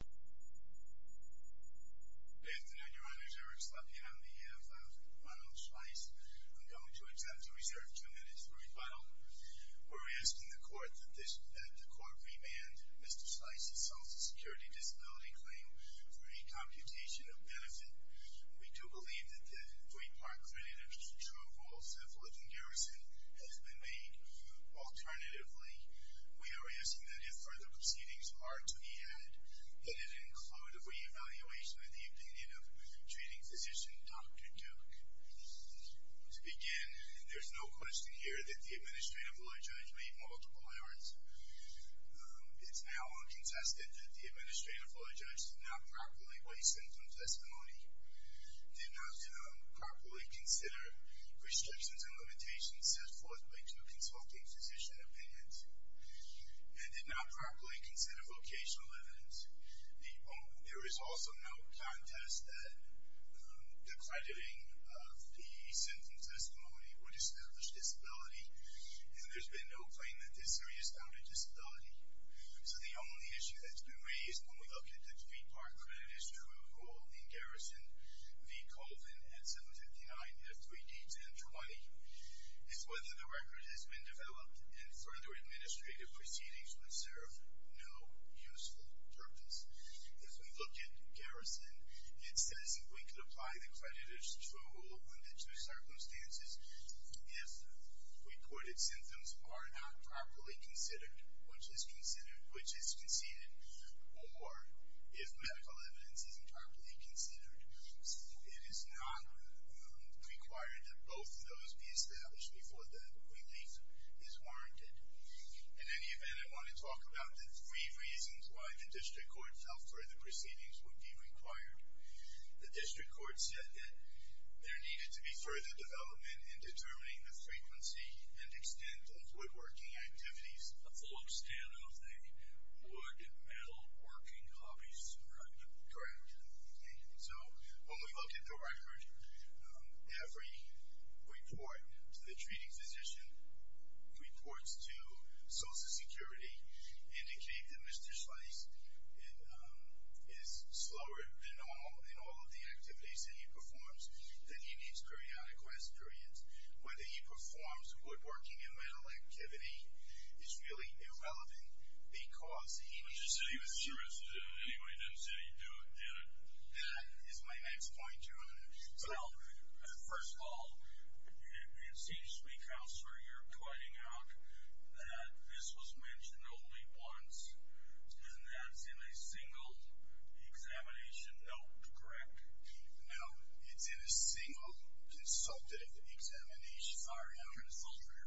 Good afternoon, your honors. Eric Slotkin, I'm the EF of Ronald Schleis. I'm going to accept a reserve two minutes for rebuttal. We're asking the court that the court remand Mr. Schleis' Social Security Disability Claim for a computation of benefit. We do believe that the three-part credit of true rules of living garrison has been made. Alternatively, we are asking that if further proceedings are to be added, that it include a re-evaluation of the opinion of treating physician Dr. Duke. To begin, there's no question here that the administrative lawyer judge made multiple errors. It's now contested that the administrative lawyer judge did not properly weigh symptoms testimony, did not properly consider restrictions and limitations set forth by two consulting physician opinions, and did not properly consider vocational evidence. There is also no contest that the crediting of the symptoms testimony were distinguished disability, and there's been no claim that this area is founded disability. So the only issue that's been raised when we look at the three-part credit of true rule in Garrison v. Colvin at 759-3D1020 is whether the record has been developed and further administrative proceedings would serve no useful purpose. As we look at Garrison, it says we could apply the credit of true rule under two circumstances if recorded symptoms are not properly considered, which is conceded, or if medical evidence isn't properly considered. It is not required that both of those be established before the relief is warranted. In any event, I want to talk about the three reasons why the district court felt further proceedings would be required. The district court said that there needed to be further development in determining the frequency and extent of woodworking activities. The full extent of the wood and metal working hobbies, correct? Correct. So when we look at the record, every report to the treating physician, reports to Social Security, indicate that Mr. Slice is slower in all of the activities that he performs, that he needs periodic rest periods. Whether he performs woodworking and metal activity is really irrelevant because he needs... But you said he was serious, didn't you? You didn't say he did it. That is my next point, Jim. Well, first of all, it seems to me, Counselor, you're pointing out that this was mentioned only once, and that's in a single examination note, correct? No, it's in a single consultative examination. Sorry, I'm a consultant.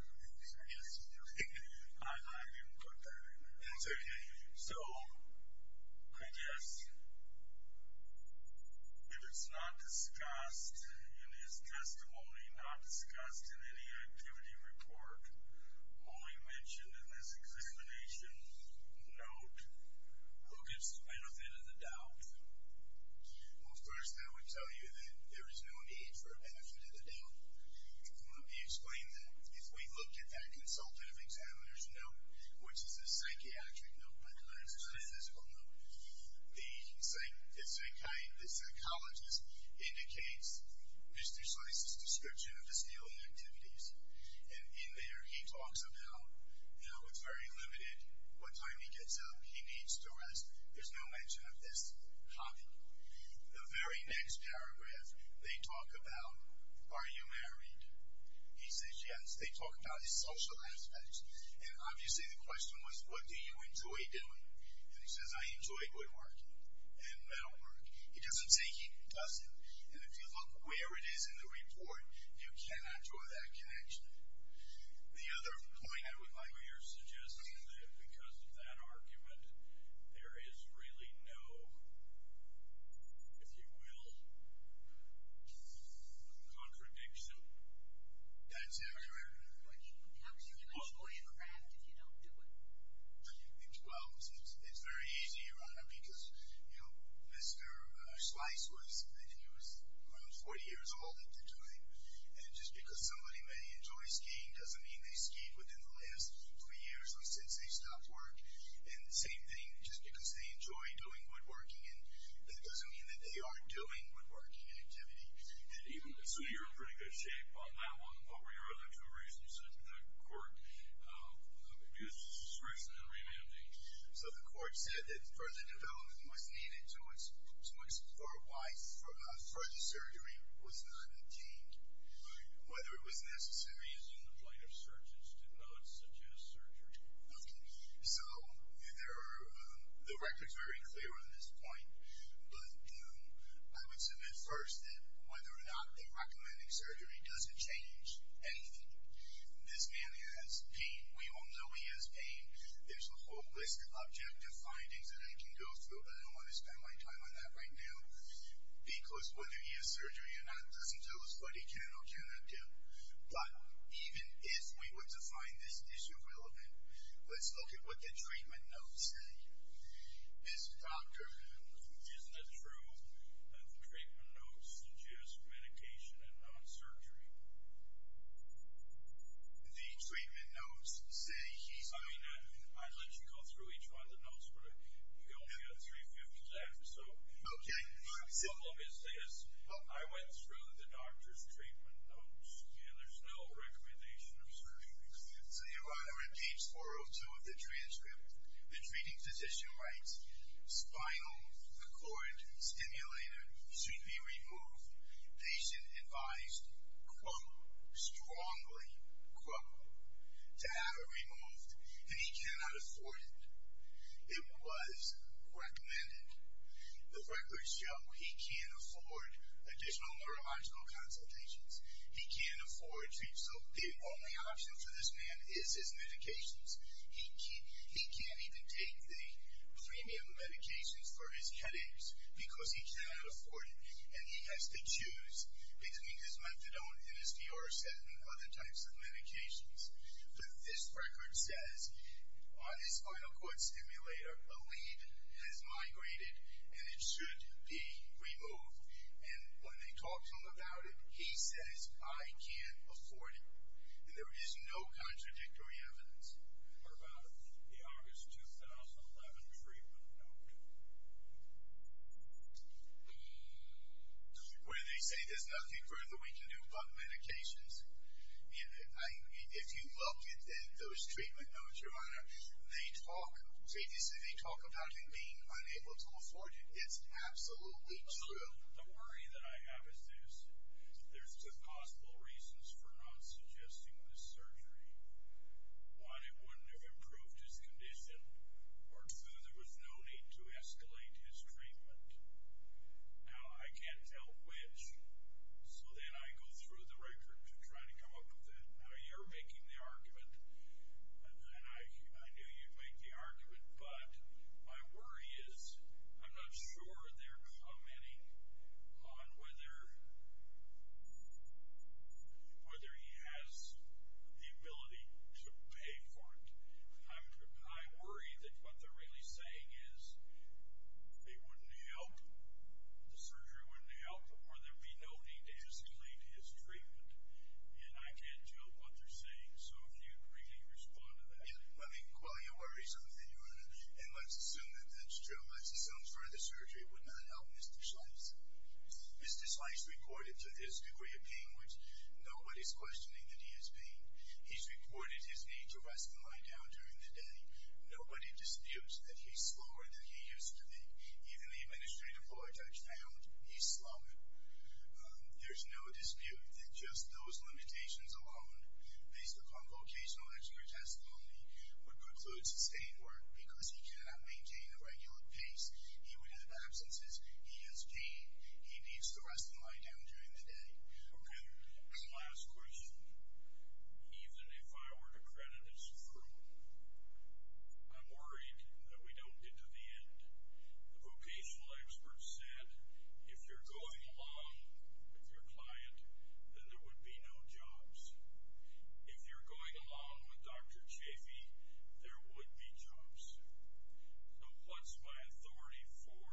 I didn't put that in there. That's okay. So I guess if it's not discussed in his testimony, not discussed in any activity report, only mentioned in this examination note, who gets the benefit of the doubt? Well, first I would tell you that there is no need for a benefit of the doubt. Let me explain that. If we look at that consultative examiner's note, which is a psychiatric note but not a physical note, the psychologist indicates Mr. Slice's description of his daily activities, and in there he talks about how it's very limited what time he gets up, he needs to rest. There's no mention of this hobby. The very next paragraph they talk about, are you married? He says, yes. They talk about his social aspects, and obviously the question was, what do you enjoy doing? And he says, I enjoy woodworking and metalwork. He doesn't say he doesn't, and if you look where it is in the report, you cannot draw that connection. The other point I would like to hear suggests that because of that argument, there is really no, if you will, contradiction. That's it. How can you enjoy a craft if you don't do it? Well, it's very easy, Your Honor, because, you know, Mr. Slice was 40 years old, and just because somebody may enjoy skiing doesn't mean they skied within the last three years or since they stopped work. And the same thing, just because they enjoy doing woodworking, that doesn't mean that they aren't doing woodworking activity. So you're in pretty good shape on that one. What were your other two reasons that the court abused the discretion in remanding? So the court said that further development was needed to explore why further surgery was not obtained, whether it was necessary. It's in the point of searches to note such as surgery. Okay. So the record's very clear on this point, but I would submit first that whether or not they recommended surgery doesn't change anything. This man has pain. We all know he has pain. There's a whole list of objective findings that I can go through, but I don't want to spend my time on that right now, because whether he has surgery or not doesn't tell us what he can or cannot do. But even if we were to find this issue relevant, let's look at what the treatment notes say. Mr. Doctor, isn't it true that the treatment notes suggest medication and not surgery? The treatment notes say he's not. I mean, I'd let you go through each one of the notes, but you only got 350 to add. Okay. The problem is this. I went through the doctor's treatment notes, and there's no recommendation of surgery. So you're on page 402 of the transcript. The treating physician writes, Spinal cord stimulator should be removed. Patient advised, quote, strongly, quote, to have it removed, and he cannot afford it. It was recommended. The records show he can't afford additional neurological consultations. He can't afford treatments. The only option for this man is his medications. He can't even take the premium medications for his headaches because he cannot afford it, and he has to choose between his methadone and his Dorset and other types of medications. But this record says on his spinal cord stimulator, a lead has migrated, and it should be removed. And when they talk to him about it, he says, I can't afford it. There is no contradictory evidence. What about the August 2011 treatment note? Where they say there's nothing further we can do but medications. If you look at those treatment notes, Your Honor, they talk about him being unable to afford it. It's absolutely true. The worry that I have is this. There's two possible reasons for not suggesting this surgery. One, it wouldn't have improved his condition. Or two, there was no need to escalate his treatment. Now, I can't tell which, so then I go through the record to try to come up with it. Now, you're making the argument, and I knew you'd make the argument, but my worry is I'm not sure they're commenting on whether he has the ability to pay for it. I worry that what they're really saying is it wouldn't help, the surgery wouldn't help, or there'd be no need to escalate his treatment. And I can't tell what they're saying. So if you'd really respond to that. Yeah, well, you worry something, Your Honor. And let's assume that that's true. Let's assume further surgery would not help Mr. Schleich. Mr. Schleich reported to this degree of pain, which nobody's questioning that he is paying. He's reported his need to rest and lie down during the day. Nobody disputes that he's slower than he used to be. Even the administrative law judge found he's slower. There's no dispute that just those limitations alone, based upon vocational expert testimony, would put food on the table, because he cannot maintain a regular pace. He would have absences. He has pain. He needs to rest and lie down during the day. Okay. One last question. Even if I were to credit it's true, I'm worried that we don't get to the end. The vocational expert said, if you're going along with your client, then there would be no jobs. If you're going along with Dr. Chafee, there would be jobs. So what's my authority for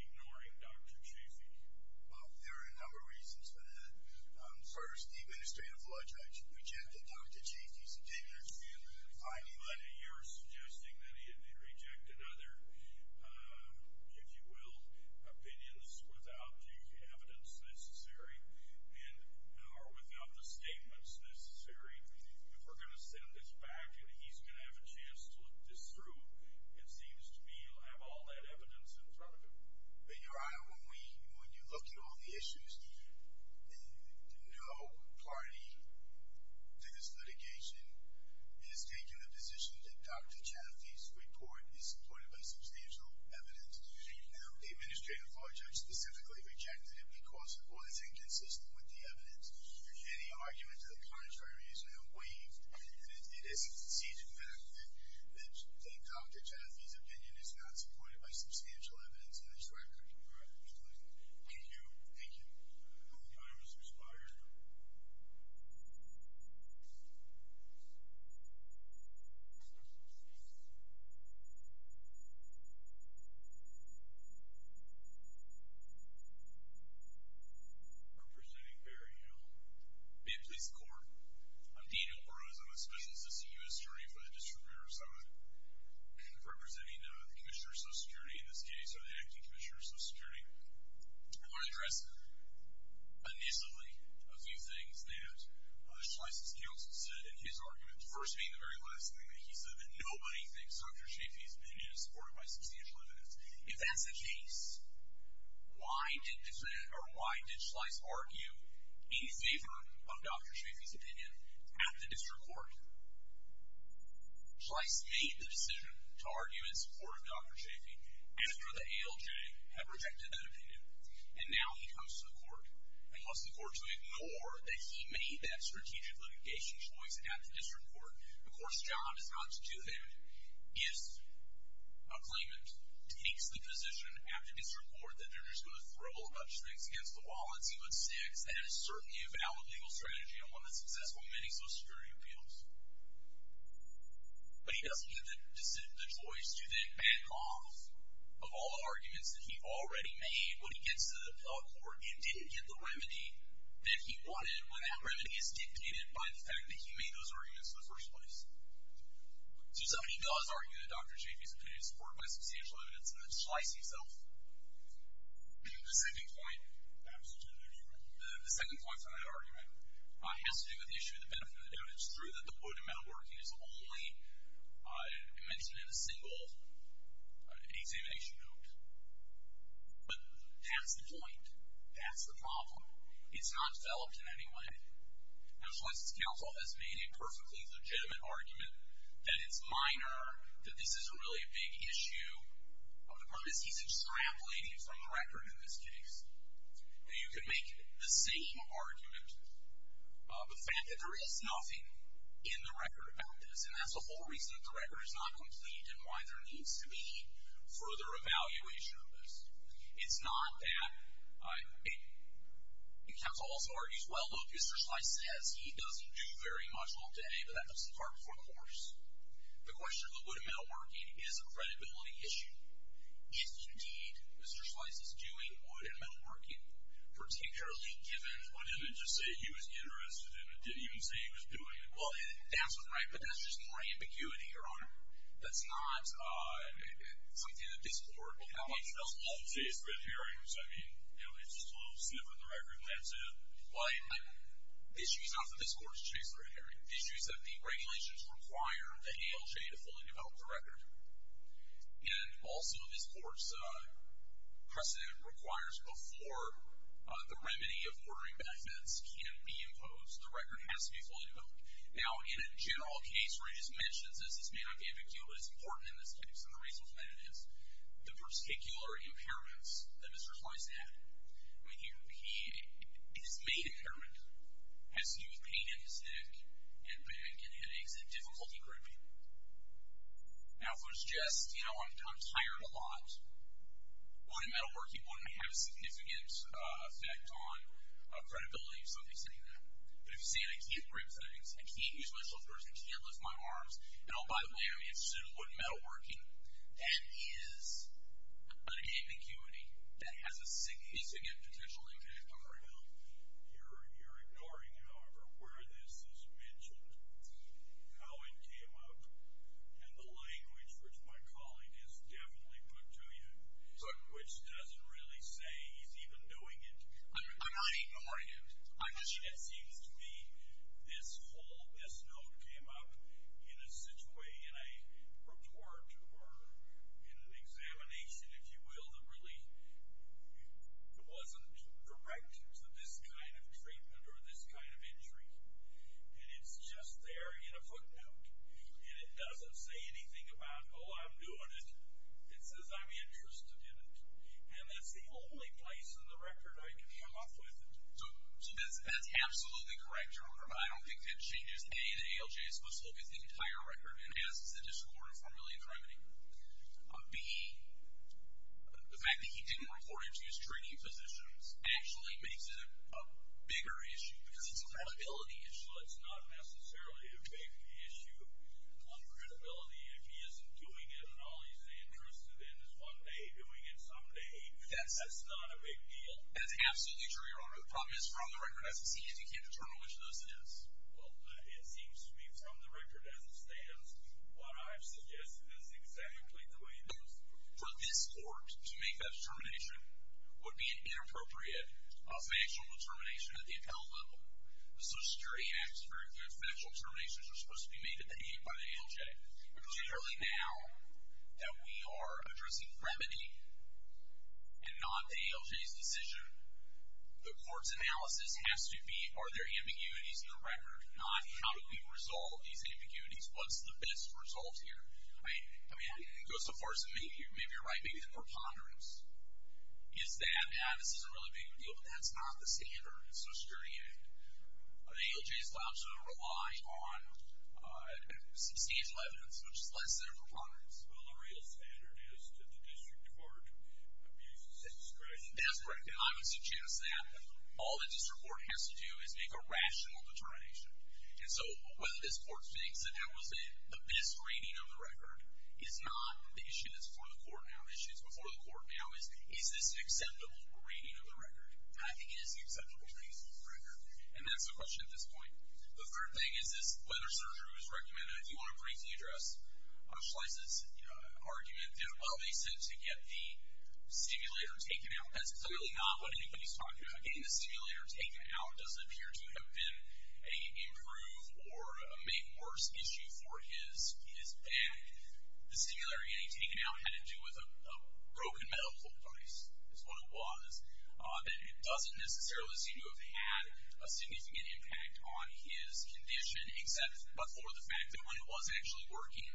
ignoring Dr. Chafee? Well, there are a number of reasons for that. First, the administrative law judge rejected Dr. Chafee's signature. But you're suggesting that he had rejected other, if you will, opinions without evidence necessary or without the statements necessary. If we're going to send this back and he's going to have a chance to look this through, it seems to me he'll have all that evidence in front of him. Your Honor, when you look at all the issues, no party to this litigation has taken the position that Dr. Chafee's report is supported by substantial evidence. The administrative law judge specifically rejected it because it wasn't consistent with the evidence. Any argument of the contrary is waived. And it seems, in fact, that Dr. Chafee's opinion is not supported by substantial evidence in this record. All right. Thank you. Thank you. The time has expired. I'm presenting Barry Hill. I'm with the Maine Police Department. I'm Dean Alvarez. I'm a Special Assistant U.S. Attorney for the District of Minnesota, representing the Commissioner of Social Security in this case, or the Acting Commissioner of Social Security. I want to address initially a few things that Schleiss's counsel said in his argument, the first being the very last thing that he said, that nobody thinks Dr. Chafee's opinion is supported by substantial evidence. If that's the case, why did Schleiss argue in favor of Dr. Chafee's opinion at the district court? Schleiss made the decision to argue in support of Dr. Chafee after the ALJ had rejected that opinion. And now he comes to the court and calls the court to ignore that he made that strategic litigation choice at the district court. Of course, John is not to do that. If a claimant takes the position after district court that they're just going to throw a whole bunch of things against the wall and see what sticks, that is certainly a valid legal strategy on one of the successful many Social Security appeals. But he doesn't get the choice to then back off of all the arguments that he already made. When he gets to the court, he did get the remedy that he wanted. And that remedy is dictated by the fact that he made those arguments in the first place. So he does argue that Dr. Chafee's opinion is supported by substantial evidence, and that's Schleiss himself. The second point on that argument has to do with the issue of the benefit of the doubt. It's true that the wood and metalworking is only mentioned in a single examination note. But that's the point. That's the problem. It's not developed in any way. And Schleiss's counsel has made a perfectly legitimate argument that it's minor, that this is a really big issue of the purpose he's extrapolating from the record in this case. You can make the same argument of the fact that there is nothing in the record about this, and that's the whole reason that the record is not complete and why there needs to be further evaluation of this. It's not that the counsel also argues, well, look, Mr. Schleiss says he doesn't do very much all day, but that doesn't far before the horse. The question of the wood and metalworking is a credibility issue. If, indeed, Mr. Schleiss is doing wood and metalworking, particularly given – Well, didn't it just say he was interested in it? Didn't it even say he was doing it? Well, that's right, but that's just more ambiguity, Your Honor. That's not something that this Court will have. He doesn't often chase red herrings. I mean, it's just a little sniff in the record, that's it. Well, the issue is not that this Court has chased a red herring. The issue is that the regulations require that ALJ to fully develop the record. And also, this Court's precedent requires before the remedy of ordering benefits can be imposed, the record has to be fully developed. Now, in a general case where he just mentions this, this may not be a big deal, but it's important in this case, and the reason for that is the particular impairments that Mr. Schleiss had. I mean, his main impairment has to do with pain in his neck and back and headaches and difficulty gripping. Now, if it was just, you know, I'm tired a lot, wood and metalworking wouldn't have a significant effect on credibility, but if you say I can't grip things, I can't use my shoulders, I can't lift my arms, and oh, by the way, I'm interested in wood and metalworking, that is an ambiguity that has a significant potential impact on credibility. You're ignoring, however, where this is mentioned, how it came up, and the language which my colleague has definitely put to you, which doesn't really say he's even doing it. I'm not ignoring it. It seems to me this whole, this note came up in a situation, a report or in an examination, if you will, that really wasn't direct to this kind of treatment or this kind of injury, and it's just there in a footnote, and it doesn't say anything about, oh, I'm doing it. It says I'm interested in it, and that's the only place in the record I can come up with it. So that's absolutely correct, John, but I don't think that changes, A, the ALJ is supposed to look at the entire record and ask this additional order of formality and cremity. B, the fact that he didn't report it to his training physicians actually makes it a bigger issue because it's a credibility issue. It's not necessarily a big issue of credibility if he isn't doing it and all he's interested in is one day doing it some day. That's not a big deal. That's absolutely true, Your Honor. The problem is from the record as it stands, you can't determine which of those it is. Well, it seems to me from the record as it stands, what I've suggested is exactly the way it is. For this court to make that determination would be an inappropriate financial determination at the appellate level. The Social Security Act is very clear. Financial determinations are supposed to be made at the aid by the ALJ. Clearly now that we are addressing cremity and not the ALJ's decision, the court's analysis has to be are there ambiguities in the record, not how do we resolve these ambiguities, what's the best result here. I mean, it goes so far as to maybe you're right, maybe the preponderance is that, yeah, this isn't really a big deal, but that's not the standard of the Social Security Act. The ALJ's labs don't rely on substantial evidence, which is less than a preponderance. Well, the real standard is that the district court abuses its discretion. That's correct. And I would suggest that all the district court has to do is make a rational determination. And so whether this court thinks that that was the best reading of the record is not the issue that's before the court now. The issue that's before the court now is, is this an acceptable reading of the record? And I think it is the acceptable reading of the record, and that's the question at this point. The third thing is whether surgery was recommended. If you want to briefly address Schleiss's argument, they're obviously sent to get the stimulator taken out. That's clearly not what anybody's talking about. Getting the stimulator taken out doesn't appear to have been an improve or a make worse issue for his back. The stimulator getting taken out had to do with a broken medical device is what it was. It doesn't necessarily seem to have had a significant impact on his condition, except for the fact that when it was actually working,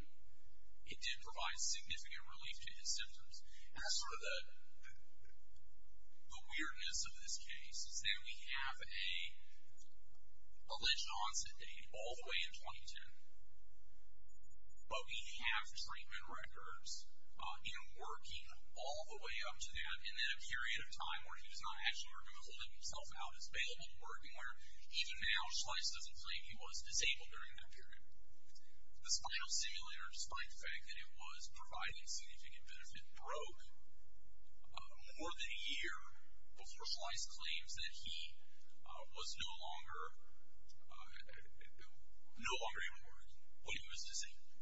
it did provide significant relief to his symptoms. And that's sort of the weirdness of this case, is that we have a alleged onset date all the way in 2010, but we have treatment records, you know, working all the way up to that, and then a period of time where he was not actually removing himself out is available to work, and even now Schleiss doesn't claim he was disabled during that period. The spinal stimulator, despite the fact that it was providing significant benefit, broke more than a year before Schleiss claims that he was no longer able to work, but he was disabled.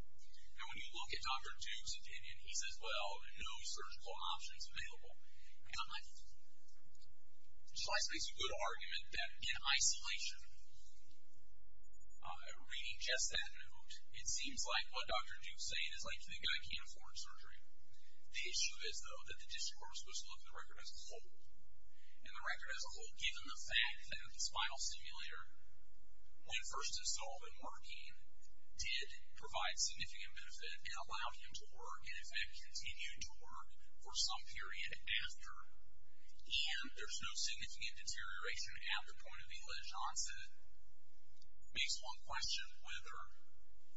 Now, when you look at Dr. Duke's opinion, he says, well, no surgical options available. Schleiss makes a good argument that in isolation, reading just that note, it seems like what Dr. Duke's saying is, like, the guy can't afford surgery. The issue is, though, that the district court was supposed to look at the record as a whole, and the record as a whole, given the fact that the spinal stimulator, when first installed and working, did provide significant benefit and allowed him to work and, in fact, continued to work for some period after, and there's no significant deterioration at the point of the alleged onset, makes one question whether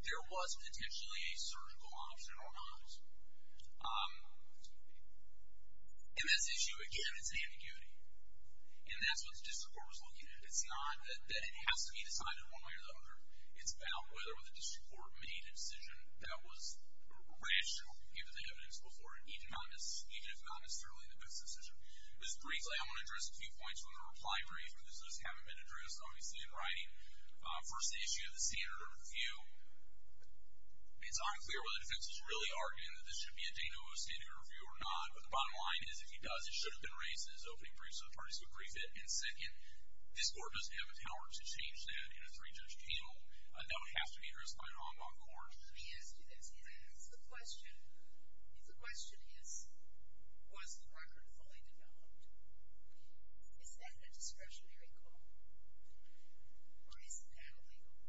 there was potentially a surgical option or not. And this issue, again, is an ambiguity, and that's what the district court was looking at. It's not that it has to be decided one way or the other. It's about whether the district court made a decision that was rational, given the evidence before it, even if not necessarily in the best decision. Just briefly, I want to address a few points from the reply brief, because those haven't been addressed, obviously, in writing. First, the issue of the standard of review. It's unclear whether the defense is really arguing that this should be a de novo standard of review or not, but the bottom line is if he does, it should have been raised in his opening brief, so the parties would agree to it. And second, this court doesn't have the power to change that in a three-judge panel. That would have to be addressed by an ongoing court. Let me ask you this. The question is, was the record fully developed? Is that a discretionary call, or is that illegal?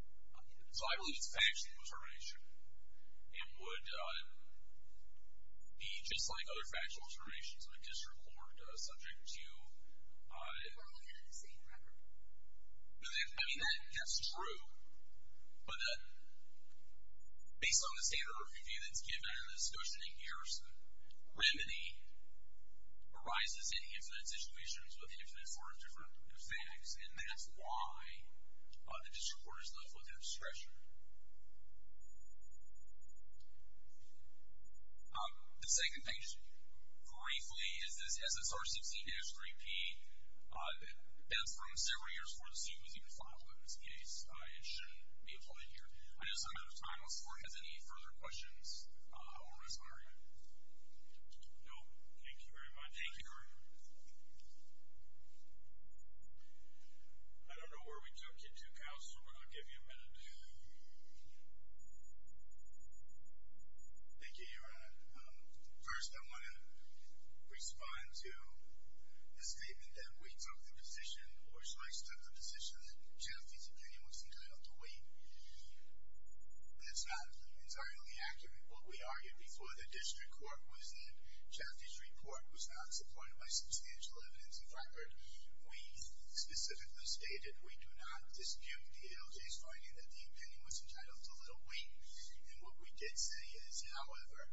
So I believe it's factual determination, and would he, just like other factual determinations of a district court, subject to it? We're looking at the same record. I mean, that's true. But based on the standard of review that's given under this motion in Garrison, remedy arises in infinite situations with infinite forms of facts, and that's why the district court is left with that discretion. The second thing, briefly, is this SSR 16-3P, that's from several years before the suit was even filed in this case, and should be applied here. I know we're running out of time. Let's see if the court has any further questions. No? Thank you very much. Thank you, Your Honor. I don't know where we took you to, counsel. We're going to give you a minute. Thank you, Your Honor. First, I want to respond to the statement that we took the position, or should I say took the position that Justice O'Connor was entitled to wait. That's not entirely accurate. What we argued before the district court was that Chaffee's report was not supported by substantial evidence. In fact, when he specifically stated, we do not dispute the ALJ's finding that the opinion was entitled to a little wait. And what we did say is, however,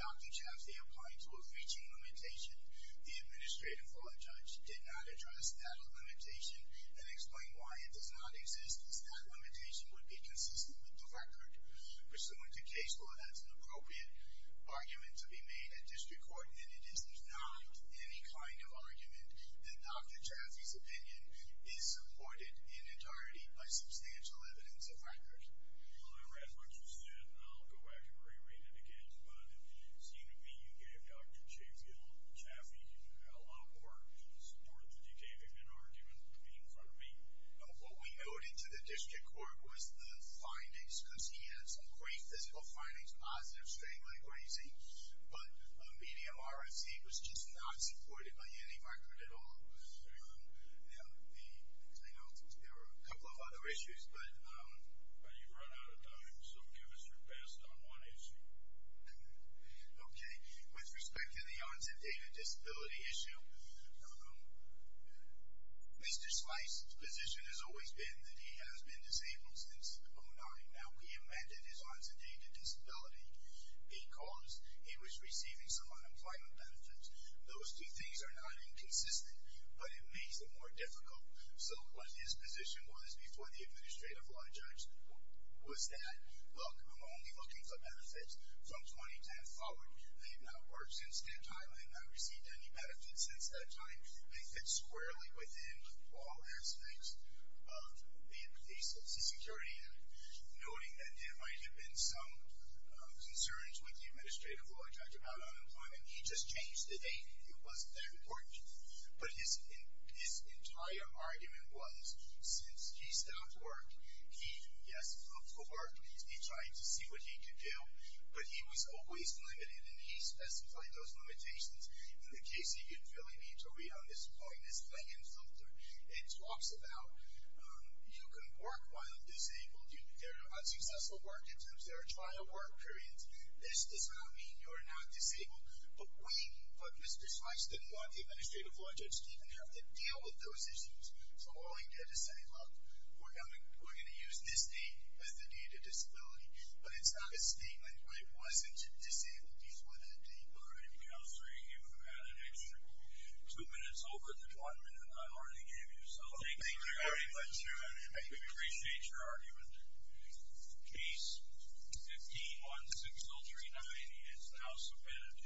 Dr. Chaffee applied to a reaching limitation. The administrative law judge did not address that limitation and explain why it does not exist, as that limitation would be consistent with the record. Pursuant to case law, that's an appropriate argument to be made at district court, and it is not any kind of argument that Dr. Chaffee's opinion is supported in entirety by substantial evidence of record. Well, I read what you said, and I'll go back and re-read it again. But it seemed to me you gave Dr. Chaffee a lot more support than you gave in an argument in front of me. No, what we noted to the district court was the findings, because he had some great physical findings, positive, straight-line, crazy, but a medium RFC was just not supported by any record at all. There were a couple of other issues, but you've run out of time, so give us your best on one issue. Okay. With respect to the onset data disability issue, Mr. Slice's position has always been that he has been disabled since 2009. Now, we amended his onset data disability because he was receiving some unemployment benefits. Those two things are not inconsistent, but it makes it more difficult. So what his position was before the administrative law judge was that, look, I'm only looking for benefits from 2010 forward. I have not worked since that time. I have not received any benefits since that time. They fit squarely within all aspects of the Social Security Act. Noting that there might have been some concerns with the administrative law judge about unemployment, he just changed the date. It wasn't that important. But his entire argument was since he stopped work, he, yes, looked for work. He tried to see what he could do. But he was always limited, and he specified those limitations. In the case you could really read to read on this point, it's playing in filter. It talks about you can work while disabled. There are unsuccessful work. Sometimes there are trial work periods. This does not mean you are not disabled. But Mr. Schweitzer did not want the administrative law judge to even have to deal with those issues. So all he did is say, look, we're going to use this date as the date of disability. But it's not a statement. I wasn't disabled before that date. All right. Counselor, you have had an extra two minutes over the one minute I already gave you. So thank you very much. I appreciate your argument. Case 15-16039 is now submitted.